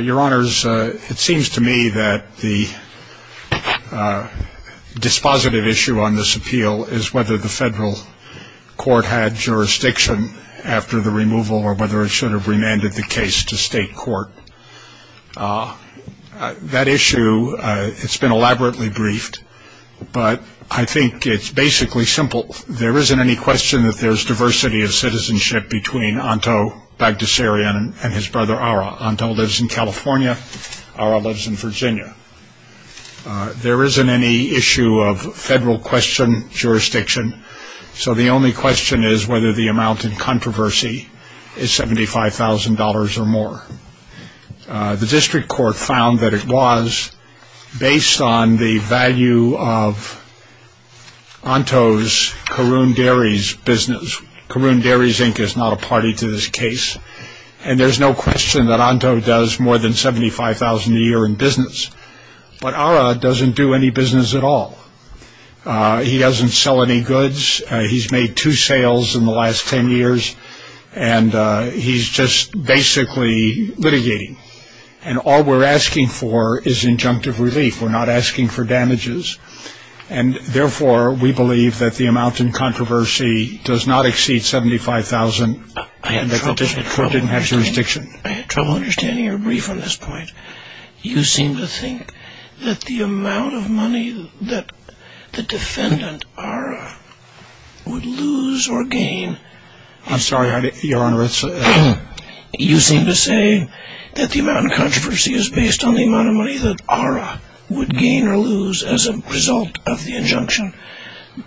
Your honors, it seems to me that the dispositive issue on this appeal is whether the federal court had jurisdiction after the removal or whether it should have remanded the case to state court. That issue, it's been elaborately briefed, but I think it's basically simple. There isn't any question that there's diversity of citizenship between Anto Baghdassarian and his brother Ara. Anto lives in California, Ara lives in Virginia. There isn't any issue of federal question, jurisdiction, so the only question is whether the amount in controversy is $75,000 or more. The district court found that it was based on the value of Anto's Caroon Dairies Inc. is not a party to this case, and there's no question that Anto does more than $75,000 a year in business, but Ara doesn't do any business at all. He doesn't sell any goods. He's made two sales in the last ten years, and he's just basically litigating. And all we're asking for is injunctive relief. We're not asking for damages, and therefore we believe that the amount in controversy does not exceed $75,000 and that the district court didn't have jurisdiction. I had trouble understanding your brief on this point. You seem to think that the amount of money that the defendant, Ara, would lose or gain... I'm sorry, Your Honor, it's... You seem to say that the amount in controversy is based on the amount of money that Ara would gain or lose as a result of the injunction,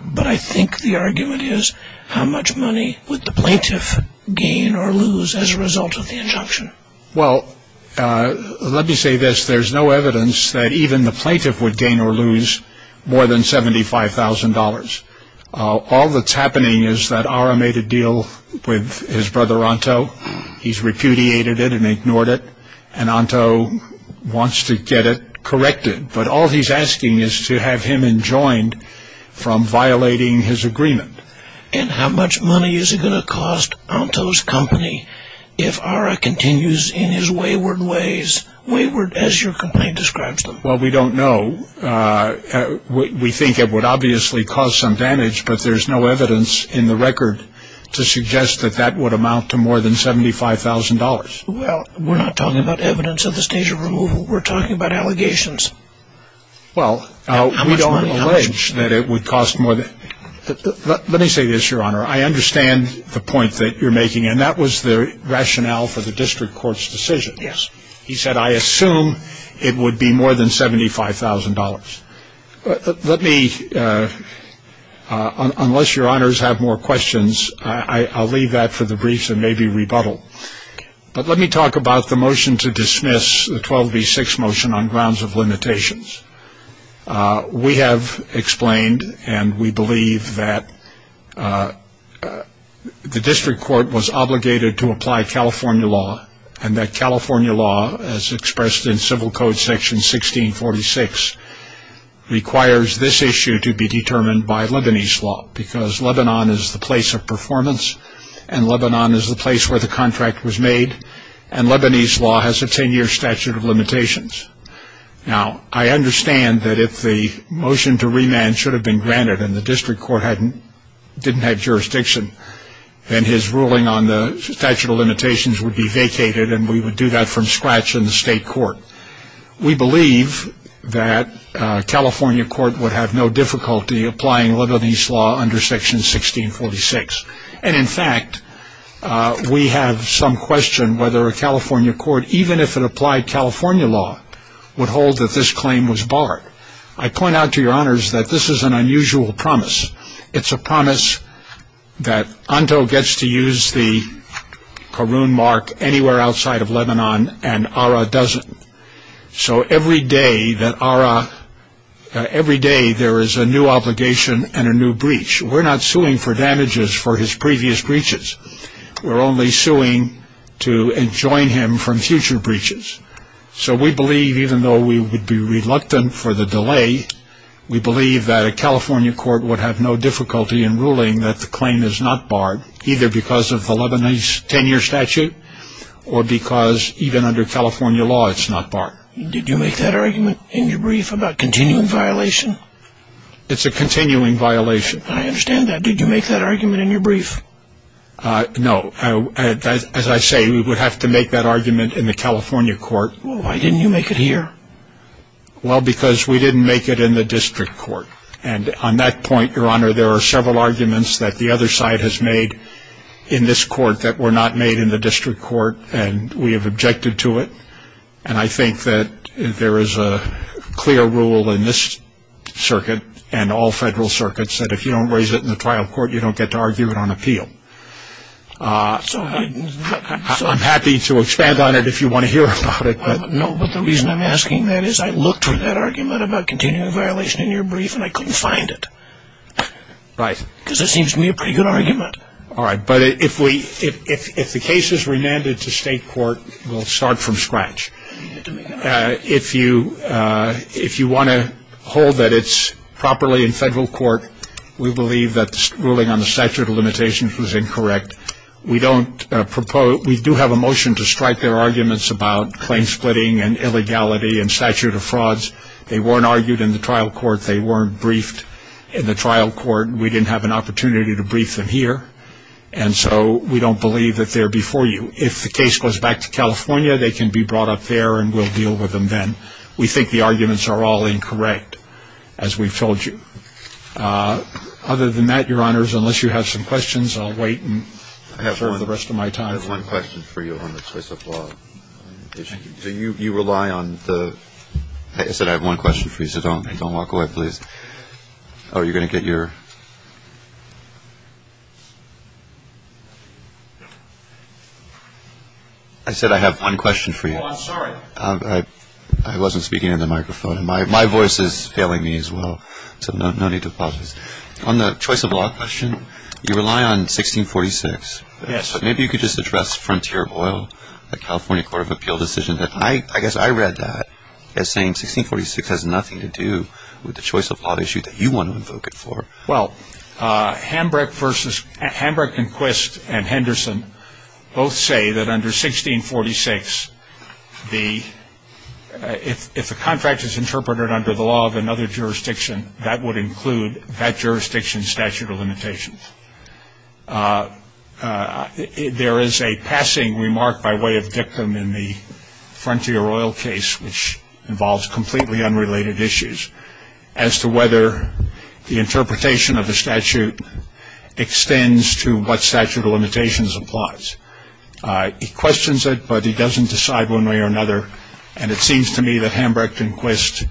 but I think the argument is how much money would the plaintiff gain or lose as a result of the injunction. Well, let me say this. There's no evidence that even the plaintiff would gain or lose more than $75,000. All that's happening is that Ara made a deal with his wants to get it corrected, but all he's asking is to have him enjoined from violating his agreement. And how much money is it going to cost Anto's company if Ara continues in his wayward ways? Wayward as your complaint describes them. Well, we don't know. We think it would obviously cause some damage, but there's no evidence in the record to suggest that that would amount to more than $75,000. Well, we're not talking about evidence at this stage of removal. We're talking about allegations. Well, we don't allege that it would cost more than... Let me say this, Your Honor. I understand the point that you're making, and that was the rationale for the district court's decision. Yes. He said, I assume it would be more than $75,000. Let me... Unless Your Honors have more questions, I'll leave that for the briefs and maybe rebuttal. But let me talk about the motion to dismiss the 12v6 motion on grounds of limitations. We have explained, and we believe that the district court was obligated to apply California law, and that California law, as expressed in civil code section 1646, requires this issue to be determined by Lebanese law, because Lebanon is the place of performance, and Lebanon is the place where the contract was made, and Lebanese law has a 10-year statute of limitations. Now, I understand that if the motion to remand should have been granted, and the district court didn't have jurisdiction, then his ruling on the statute of limitations would be vacated, and we would do that from scratch in the state court. We believe that California court would have no difficulty applying Lebanese law under section 1646. And in fact, we have some question whether a California court, even if it applied California law, would hold that this claim was barred. I point out to Your Honors that this is an unusual promise. It's a promise that Anto gets to use the Karun mark anywhere outside of Lebanon, and Ara doesn't. So every day that Ara, every day there is a new obligation and a new breach. We're not suing for damages for his previous breaches. We're only suing to enjoin him from future breaches. So we believe, even though we would be reluctant for the delay, we believe that a California court would have no difficulty in ruling that the claim is not barred, either because of the Lebanese 10-year statute, or because even under California law it's not barred. Did you make that argument in your brief about continuing violation? It's a continuing violation. I understand that. Did you make that argument in your brief? No. As I say, we would have to make that argument in the California court. Why didn't you make it here? Well, because we didn't make it in the district court. And on that point, Your Honor, there are several arguments that the other side has made in this court that were not made in the district court, and we have objected to it. And I think that there is a clear rule in this circuit and all federal circuits that if you don't raise it in the trial court, you don't get to argue it on appeal. I'm happy to expand on it if you want to hear about it. No, but the reason I'm asking that is I looked for that argument about continuing violation in your brief, and I couldn't find it, because it seems to me a pretty good argument. All right. But if the case is remanded to state court, we'll start from scratch. If you want to hold that it's properly in federal court, we believe that the ruling on the statute of limitations was incorrect. We do have a motion to strike their arguments about claim splitting and illegality and statute of frauds. They weren't argued in the trial court. They weren't briefed in the trial court. We didn't have an opportunity to brief them here. And so we don't believe that they're before you. If the case goes back to California, they can be brought up there and we'll deal with them then. We think the arguments are all incorrect, as we've told you. Other than that, Your Honors, unless you have some questions, I'll wait for the rest of my time. I have one question for you on the choice of law. You rely on the – I said I have one question for you, so don't walk away, please. Are you going to get your – I said I have one question for you. Oh, I'm sorry. I wasn't speaking into the microphone. My voice is failing me as well. So no need to pause this. On the choice of law question, you rely on 1646. Yes. Maybe you could just address Frontier Oil, the California Court of Appeal decision. I guess I read that as saying 1646 has nothing to do with the choice of law issue that you want to invoke it for. Well, Hambrick and Quist and Henderson both say that under 1646, the – if the contract is interpreted under the law of another jurisdiction, that would include that jurisdiction's statute of limitations. There is a passing remark by way of dictum in the Frontier Oil case, which involves completely unrelated issues, as to whether the interpretation of the statute extends to what statute of limitations applies. He questions it, but he doesn't decide one way or another, and it seems to me that Hambrick and Quist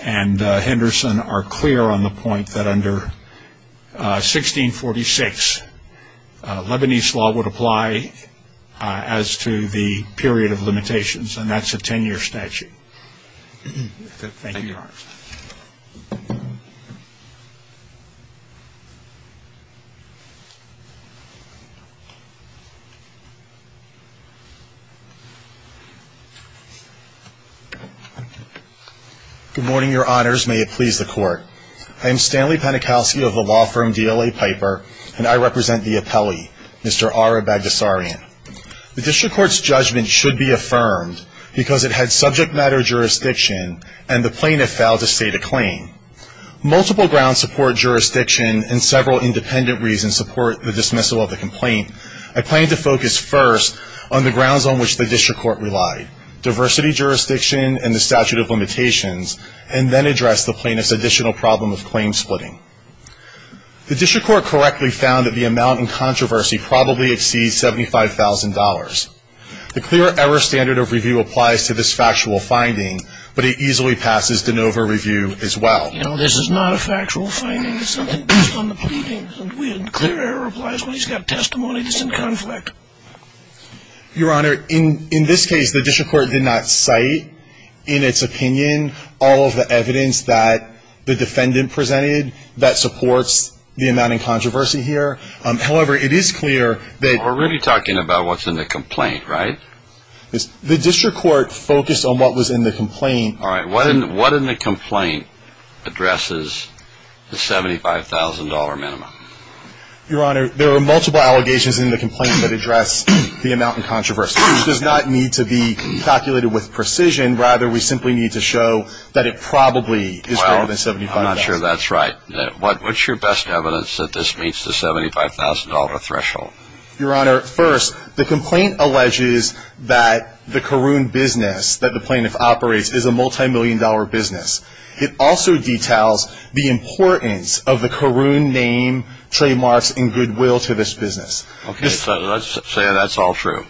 and Henderson are clear on the point that under 1646, Lebanese law would apply as to the period of limitations and that's a 10-year statute. Thank you, Your Honor. Good morning, Your Honors. May it please the Court. I am Stanley Panikowsky of the law firm DLA Piper, and I represent the appellee, Mr. Ara Bagdasarian. The district court's claim cannot be affirmed because it had subject matter jurisdiction and the plaintiff failed to state a claim. Multiple grounds support jurisdiction and several independent reasons support the dismissal of the complaint. I plan to focus first on the grounds on which the district court relied, diversity jurisdiction and the statute of limitations, and then address the plaintiff's additional problem of claim splitting. The district court correctly found that the amount in controversy probably exceeds $75,000. The clear error standard of review applies to this factual finding, but it easily passes de novo review as well. You know, this is not a factual finding. It's something based on the pleadings. Clear error applies when he's got testimony that's in conflict. Your Honor, in this case, the district court did not cite in its opinion all of the evidence that the defendant presented that supports the amount in controversy here. However, it is clear that We're really talking about what's in the complaint, right? The district court focused on what was in the complaint. What in the complaint addresses the $75,000 minimum? Your Honor, there are multiple allegations in the complaint that address the amount in controversy. It does not need to be calculated with precision. Rather, we simply need to show that it probably is greater than $75,000. I'm not sure that's right. What's your best evidence that this meets the $75,000 threshold? Your Honor, first, the complaint alleges that the Caroon business that the plaintiff operates is a multimillion dollar business. It also details the importance of the Caroon name, trademarks, and goodwill to this business. Okay, so let's say that's all true.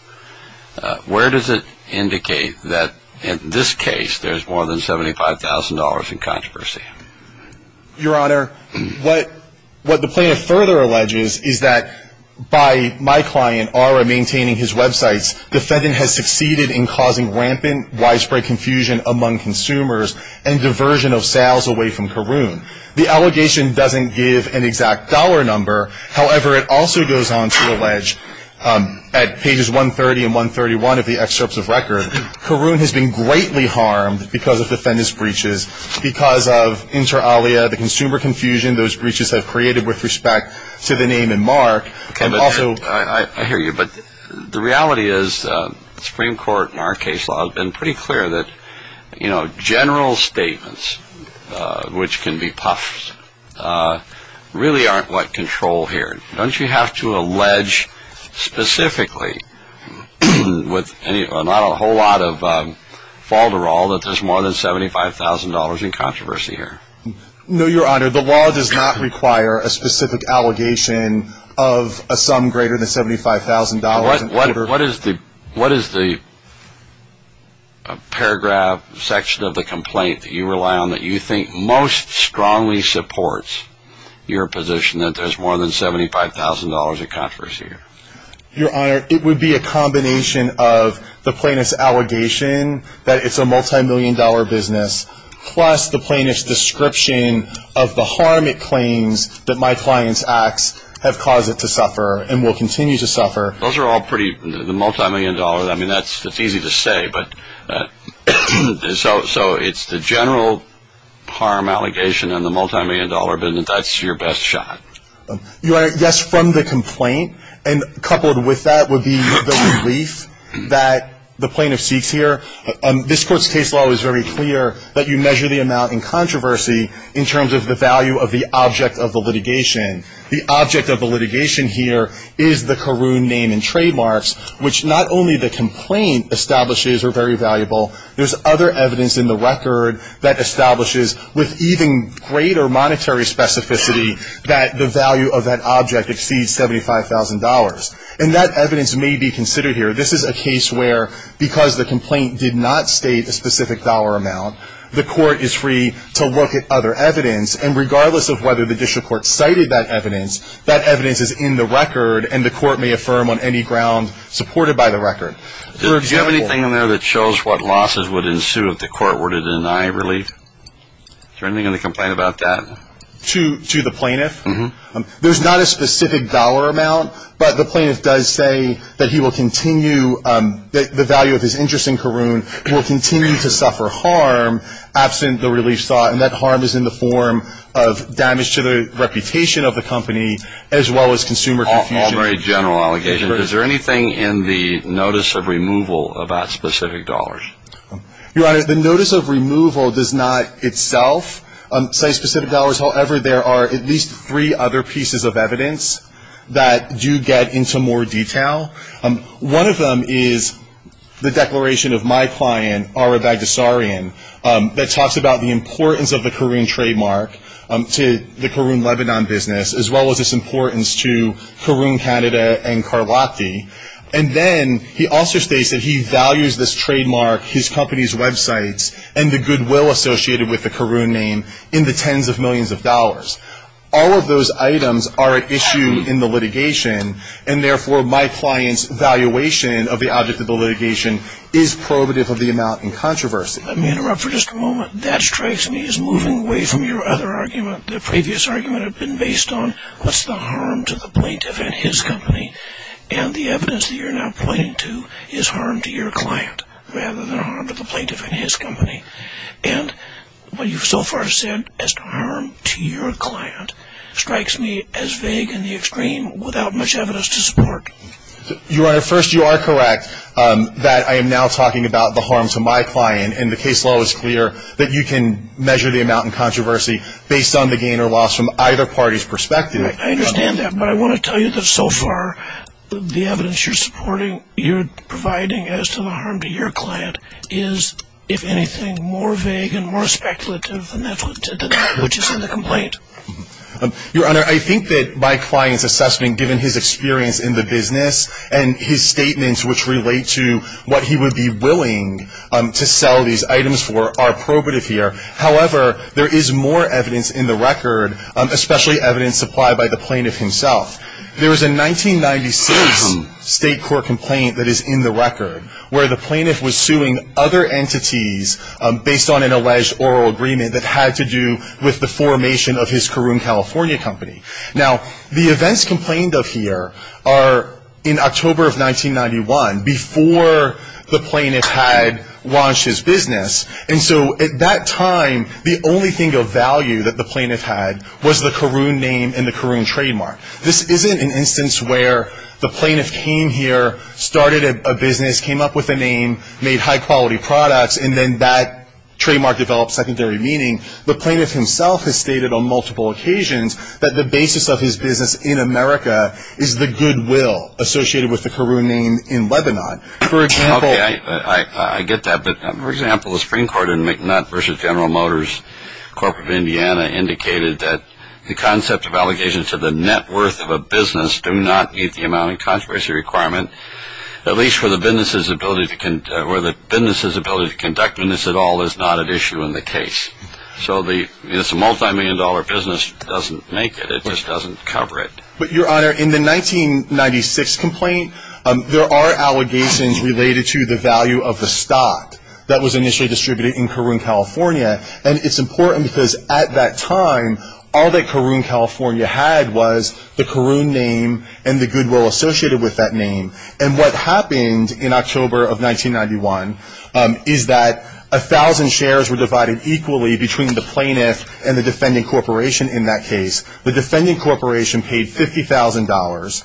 Where does it indicate that in this case there's more than $75,000 in controversy? Your Honor, what the plaintiff further alleges is that by my client, Aura, maintaining his websites, the defendant has succeeded in causing rampant widespread confusion among consumers and diversion of sales away from Caroon. The allegation doesn't give an exact dollar number. However, it also goes on to allege at pages 130 and 131 of the excerpts of record, Caroon has been greatly harmed because of inter alia, the consumer confusion those breaches have created with respect to the name and mark and also... I hear you, but the reality is the Supreme Court in our case law has been pretty clear that general statements, which can be puffed, really aren't what control here. Don't you have to allege specifically with not a whole lot of falderal that there's more than $75,000 in controversy here? No, Your Honor. The law does not require a specific allegation of a sum greater than $75,000. What is the paragraph section of the complaint that you rely on that you think most strongly supports your position that there's more than $75,000 in controversy here? Your Honor, it would be a combination of the plaintiff's allegation that it's a multi-million dollar business, plus the plaintiff's description of the harm it claims that my client's acts have caused it to suffer and will continue to suffer. Those are all pretty, the multi-million dollars, I mean that's easy to say, but so it's the general harm allegation and the multi-million dollar business, that's your best shot? Your Honor, yes, from the complaint and coupled with that would be the relief that the plaintiff seeks here. This Court's case law is very clear that you measure the amount in controversy in terms of the value of the object of the litigation. The object of the litigation here is the Caroon name and trademarks, which not only the complaint establishes are very valuable, there's other evidence in the record that establishes with even greater monetary specificity that the value of that object exceeds $75,000. And that evidence may be considered here. This is a case where because the complaint did not state a specific dollar amount, the court is free to look at other evidence and regardless of whether the district court cited that evidence, that evidence is in the record and the court may affirm on any ground supported by the record. Do you have anything in there that shows what losses would ensue if the court were to deny relief? Is there anything in the complaint about that? To the plaintiff? Mm-hmm. There's not a specific dollar amount, but the plaintiff does say that he will continue that the value of his interest in Caroon will continue to suffer harm absent the relief sought and that harm is in the form of damage to the reputation of the company as well as consumer confusion. Very general allegation. Is there anything in the notice of removal about specific dollars? Your Honor, the notice of removal does not itself cite specific dollars. However, there are at least three other pieces of evidence that do get into more detail. One of them is the declaration of my client, Ara Bagdasarian, that talks about the importance of the Caroon trademark to the Caroon Lebanon business as well as its importance to Caroon Canada and Carlotti. And then he also states that he values this trademark, his company's websites, and the goodwill associated with the Caroon name in the tens of millions of dollars. All of those items are at issue in the litigation, and therefore my client's valuation of the object of the litigation is prohibitive of the amount in controversy. Let me interrupt for just a moment. That strikes me as moving away from your other argument. The previous argument had been based on what's the harm to the plaintiff and his company, and the evidence that you're now pointing to is harm to your client rather than harm to the plaintiff and his company. And what you've so far said as to harm to your client strikes me as vague and the extreme without much evidence to support. Your Honor, first you are correct that I am now talking about the harm to my client, and the case law is clear that you can measure the amount in controversy based on the gain or loss from either party's perspective. I understand that, but I want to tell you that so far the evidence you're supporting, you're providing as to the harm to your client is, if anything, more vague and more speculative than that which is in the complaint. Your Honor, I think that my client's assessment given his experience in the business and his statements which relate to what he would be willing to sell these items for are probative here. However, there is more evidence in the record, especially evidence supplied by the plaintiff himself. There is a 1996 state court complaint that is in the record where the plaintiff was suing other entities based on an alleged oral agreement that had to do with the formation of his Caroon California company. Now the events complained of here are in October of 1991, before the plaintiff had launched his business, and so at that time the only thing of value that the plaintiff had was the Caroon name and the Caroon trademark. This isn't an instance where the plaintiff came here, started a business, came up with a name, made high-quality products, and then that trademark developed secondary meaning. The plaintiff himself has stated on multiple occasions that the basis of his business in America is the goodwill associated with the Caroon name in Lebanon. For example... Okay, I get that, but for example, the Supreme Court in McNutt v. General Motors, Corp. of the concept of allegations of the net worth of a business do not meet the amount of controversy requirement, at least where the business's ability to conduct business at all is not at issue in the case. So it's a multi-million dollar business, it doesn't make it, it just doesn't cover it. But Your Honor, in the 1996 complaint, there are allegations related to the value of the stock that was initially distributed in Caroon California, and it's important because at that time, all that Caroon California had was the Caroon name and the goodwill associated with that name. And what happened in October of 1991 is that 1,000 shares were divided equally between the plaintiff and the defendant corporation in that case. The defendant corporation paid $50,000,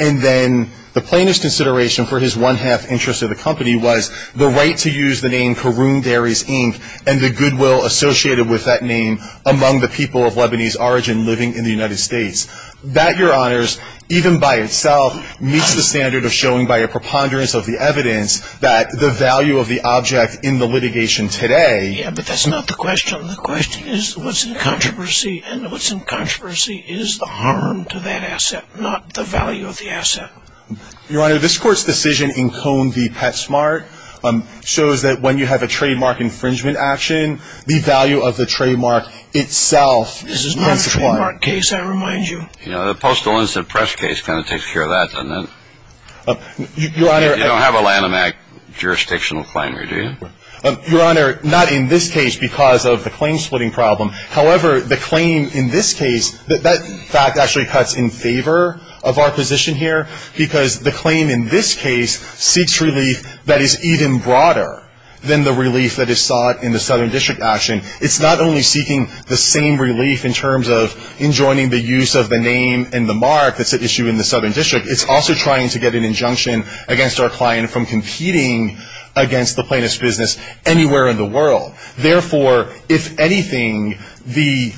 and then the plaintiff's consideration for his one-half interest of the company was the right to use the name Caroon Dairies, Inc., and the goodwill associated with that name among the people of Lebanese origin living in the United States. That, Your Honors, even by itself, meets the standard of showing by a preponderance of the evidence that the value of the object in the litigation today... Yeah, but that's not the question. The question is what's in controversy, and what's in controversy is the harm to that asset, not the value of the asset. Your Honor, this Court's decision in Cone v. Petsmart shows that when you have a trademark infringement action, the value of the trademark itself is not supplied. This is not a trademark case, I remind you. You know, the Postal Incident Press case kind of takes care of that, doesn't it? Your Honor... You don't have a Lanham Act jurisdictional plenary, do you? Your Honor, not in this case because of the claim-splitting problem. However, the claim in this case, that fact actually cuts in favor of our position here because the claim in this case seeks relief that is even broader than the relief that is sought in the Southern District action. It's not only seeking the same relief in terms of enjoining the use of the name and the mark that's at issue in the Southern District. It's also trying to get an injunction against our client from competing against the plaintiff's business anywhere in the world. Therefore, if anything, the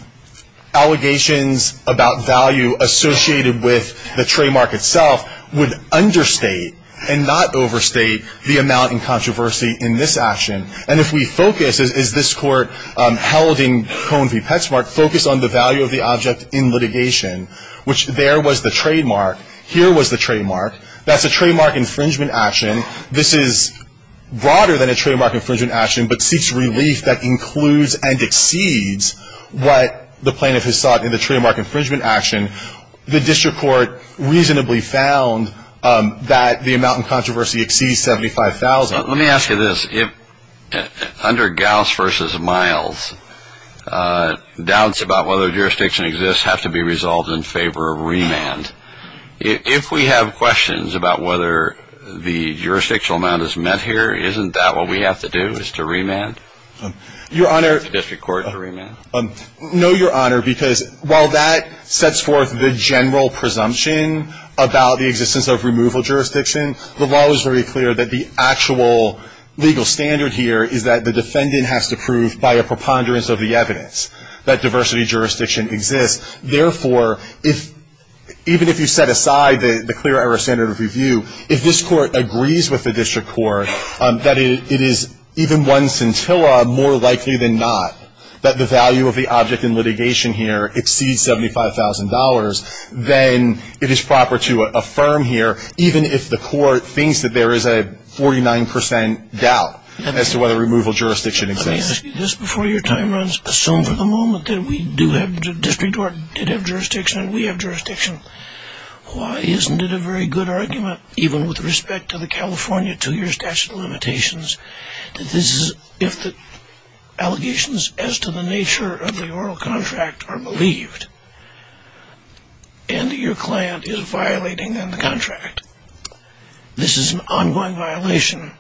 allegations about value associated with the trademark itself would understate and not overstate the amount in controversy in this action. And if we focus, as this Court held in Cone v. Petsmart, focus on the value of the object in litigation, which there was the trademark, here was the trademark, that's a trademark infringement action. This is broader than a trademark infringement action, but seeks relief that includes and exceeds what the plaintiff has sought in the trademark infringement action. The district court reasonably found that the amount in controversy exceeds $75,000. Let me ask you this. Under Gauss v. Miles, doubts about whether jurisdiction exists have to be resolved in favor of remand. If we have questions about whether the jurisdictional amount is met here, isn't that what we have to do, is to remand? Your Honor, no, Your Honor, because while that sets forth the general presumption about the existence of removal jurisdiction, the law is very clear that the actual legal standard here is that the defendant has to prove by a preponderance of the evidence that diversity jurisdiction exists. Therefore, even if you set aside the clear error standard of review, if this Court agrees with the district court that it is even one scintilla more likely than not that the value of the object in litigation here exceeds $75,000, then it is proper to affirm here, even if the Court thinks that there is a 49 percent doubt as to whether removal jurisdiction exists. Let me ask you this before your time runs. Assume for the moment that we do have, the district court did have jurisdiction and we have jurisdiction. Why isn't it a very good argument, even with respect to the California two-year statute of limitations, that this is, if the allegations as to the nature of the oral contract are believed and your client is violating the contract, this is an ongoing violation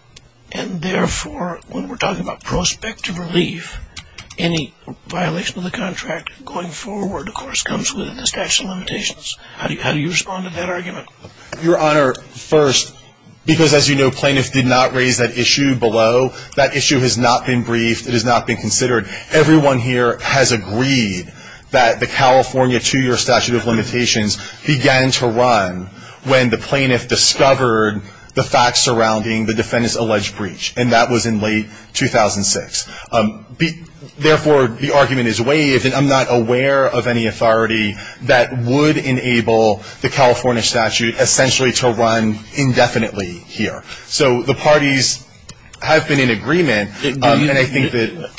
and therefore, when we're talking about prospective relief, any violation of the contract going forward, of course, comes with the statute of limitations. How do you respond to that argument? Your Honor, first, because as you know, plaintiff did not raise that issue below. That issue has not been briefed. It has not been considered. Everyone here has agreed that the California two-year statute of limitations began to run when the plaintiff discovered the facts surrounding the defendant's alleged breach, and that was in late 2006. Therefore, the argument is waived, and I'm not aware of any authority that would enable the California statute essentially to run indefinitely here. So the parties have been in agreement, and I think that...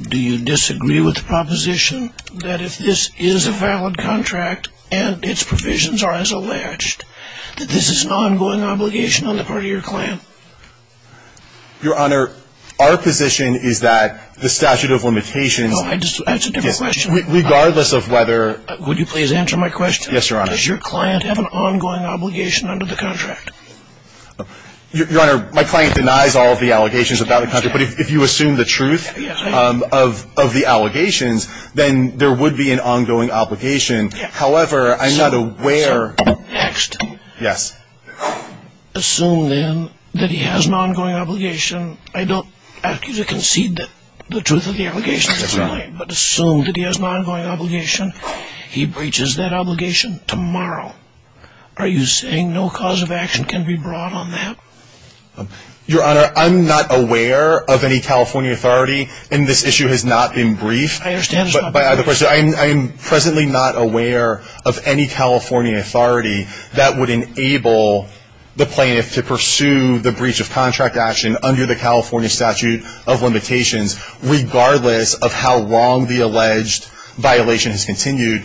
Do you disagree with the proposition that if this is a valid contract and its provisions are as alleged, that this is an ongoing obligation on the part of your client? Your Honor, our position is that the statute of limitations... No, I just... That's a different question. Regardless of whether... Would you please answer my question? Yes, Your Honor. Does your client have an ongoing obligation under the contract? Your Honor, my client denies all of the allegations about the contract, but if you assume the truth of the allegations, then there would be an ongoing obligation. However, I'm not aware... Next. Yes. Assume, then, that he has an ongoing obligation. I don't ask you to concede the truth of the allegations, but assume that he has an ongoing obligation. He breaches that obligation tomorrow. Are you saying no cause of action can be brought on that? Your Honor, I'm not aware of any California authority, and this issue has not been briefed. I understand it's not been briefed. But by the way, I am presently not aware of any California authority that would enable the plaintiff to pursue the breach of contract action under the California statute of limitations, regardless of how long the alleged violation has continued.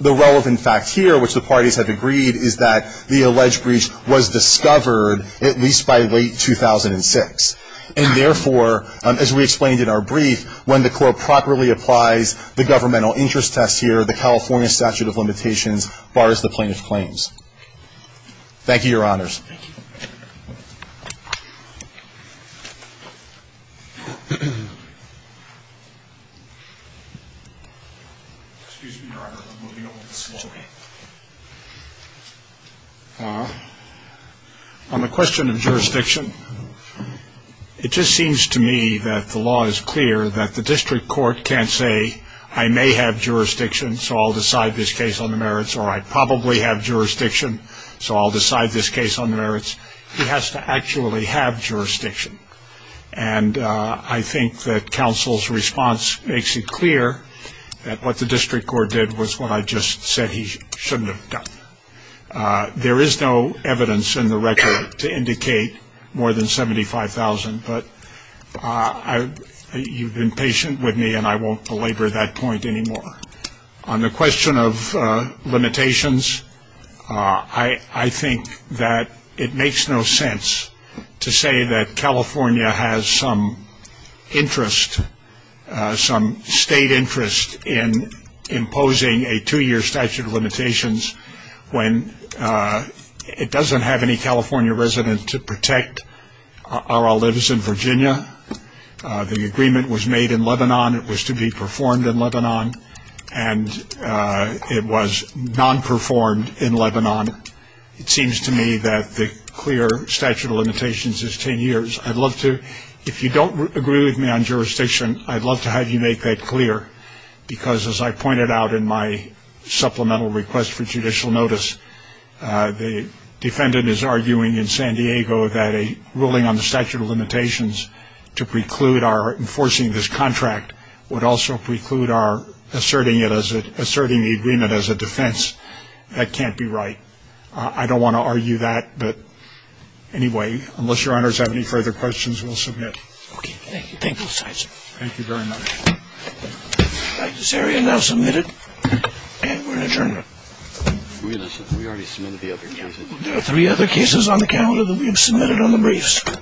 The relevant fact here, which the parties have agreed, is that the alleged breach was discovered at least by late 2006. And therefore, as we explained in our brief, when the court properly applies the governmental interest test here, the California statute of limitations bars the plaintiff's claims. Thank you, Your Honors. Thank you. On the question of jurisdiction, it just seems to me that the law is clear that the district court can't say, I may have jurisdiction, so I'll decide this case on the merits, or I probably have jurisdiction, so I'll decide this case on the merits. He has to actually have jurisdiction. And I think that counsel's response makes it clear that what the district court did was what I just said he shouldn't have done. There is no evidence in the record to indicate more than 75,000, but you've been patient with me, and I won't belabor that point anymore. On the question of limitations, I think that it makes no sense to say that California has some interest, some state interest, in imposing a two-year statute of limitations when it doesn't have any California residents to protect our olives in Virginia. The agreement was made in Lebanon. It was to be performed in Lebanon, and it was non-performed in Lebanon. It seems to me that the clear statute of limitations is 10 years. If you don't agree with me on jurisdiction, I'd love to have you make that clear, because as I pointed out in my supplemental request for judicial notice, the defendant is arguing in San Diego that a ruling on the statute of limitations to preclude our enforcing this contract would also preclude our asserting the agreement as a defense. That can't be right. I don't want to argue that, but anyway, unless your honors have any further questions, we'll submit. Okay. Thank you. Thank you, sir. Thank you very much. This area now submitted. And we're in adjournment. We already submitted the other cases. There are three other cases on the calendar that we have submitted on the briefs.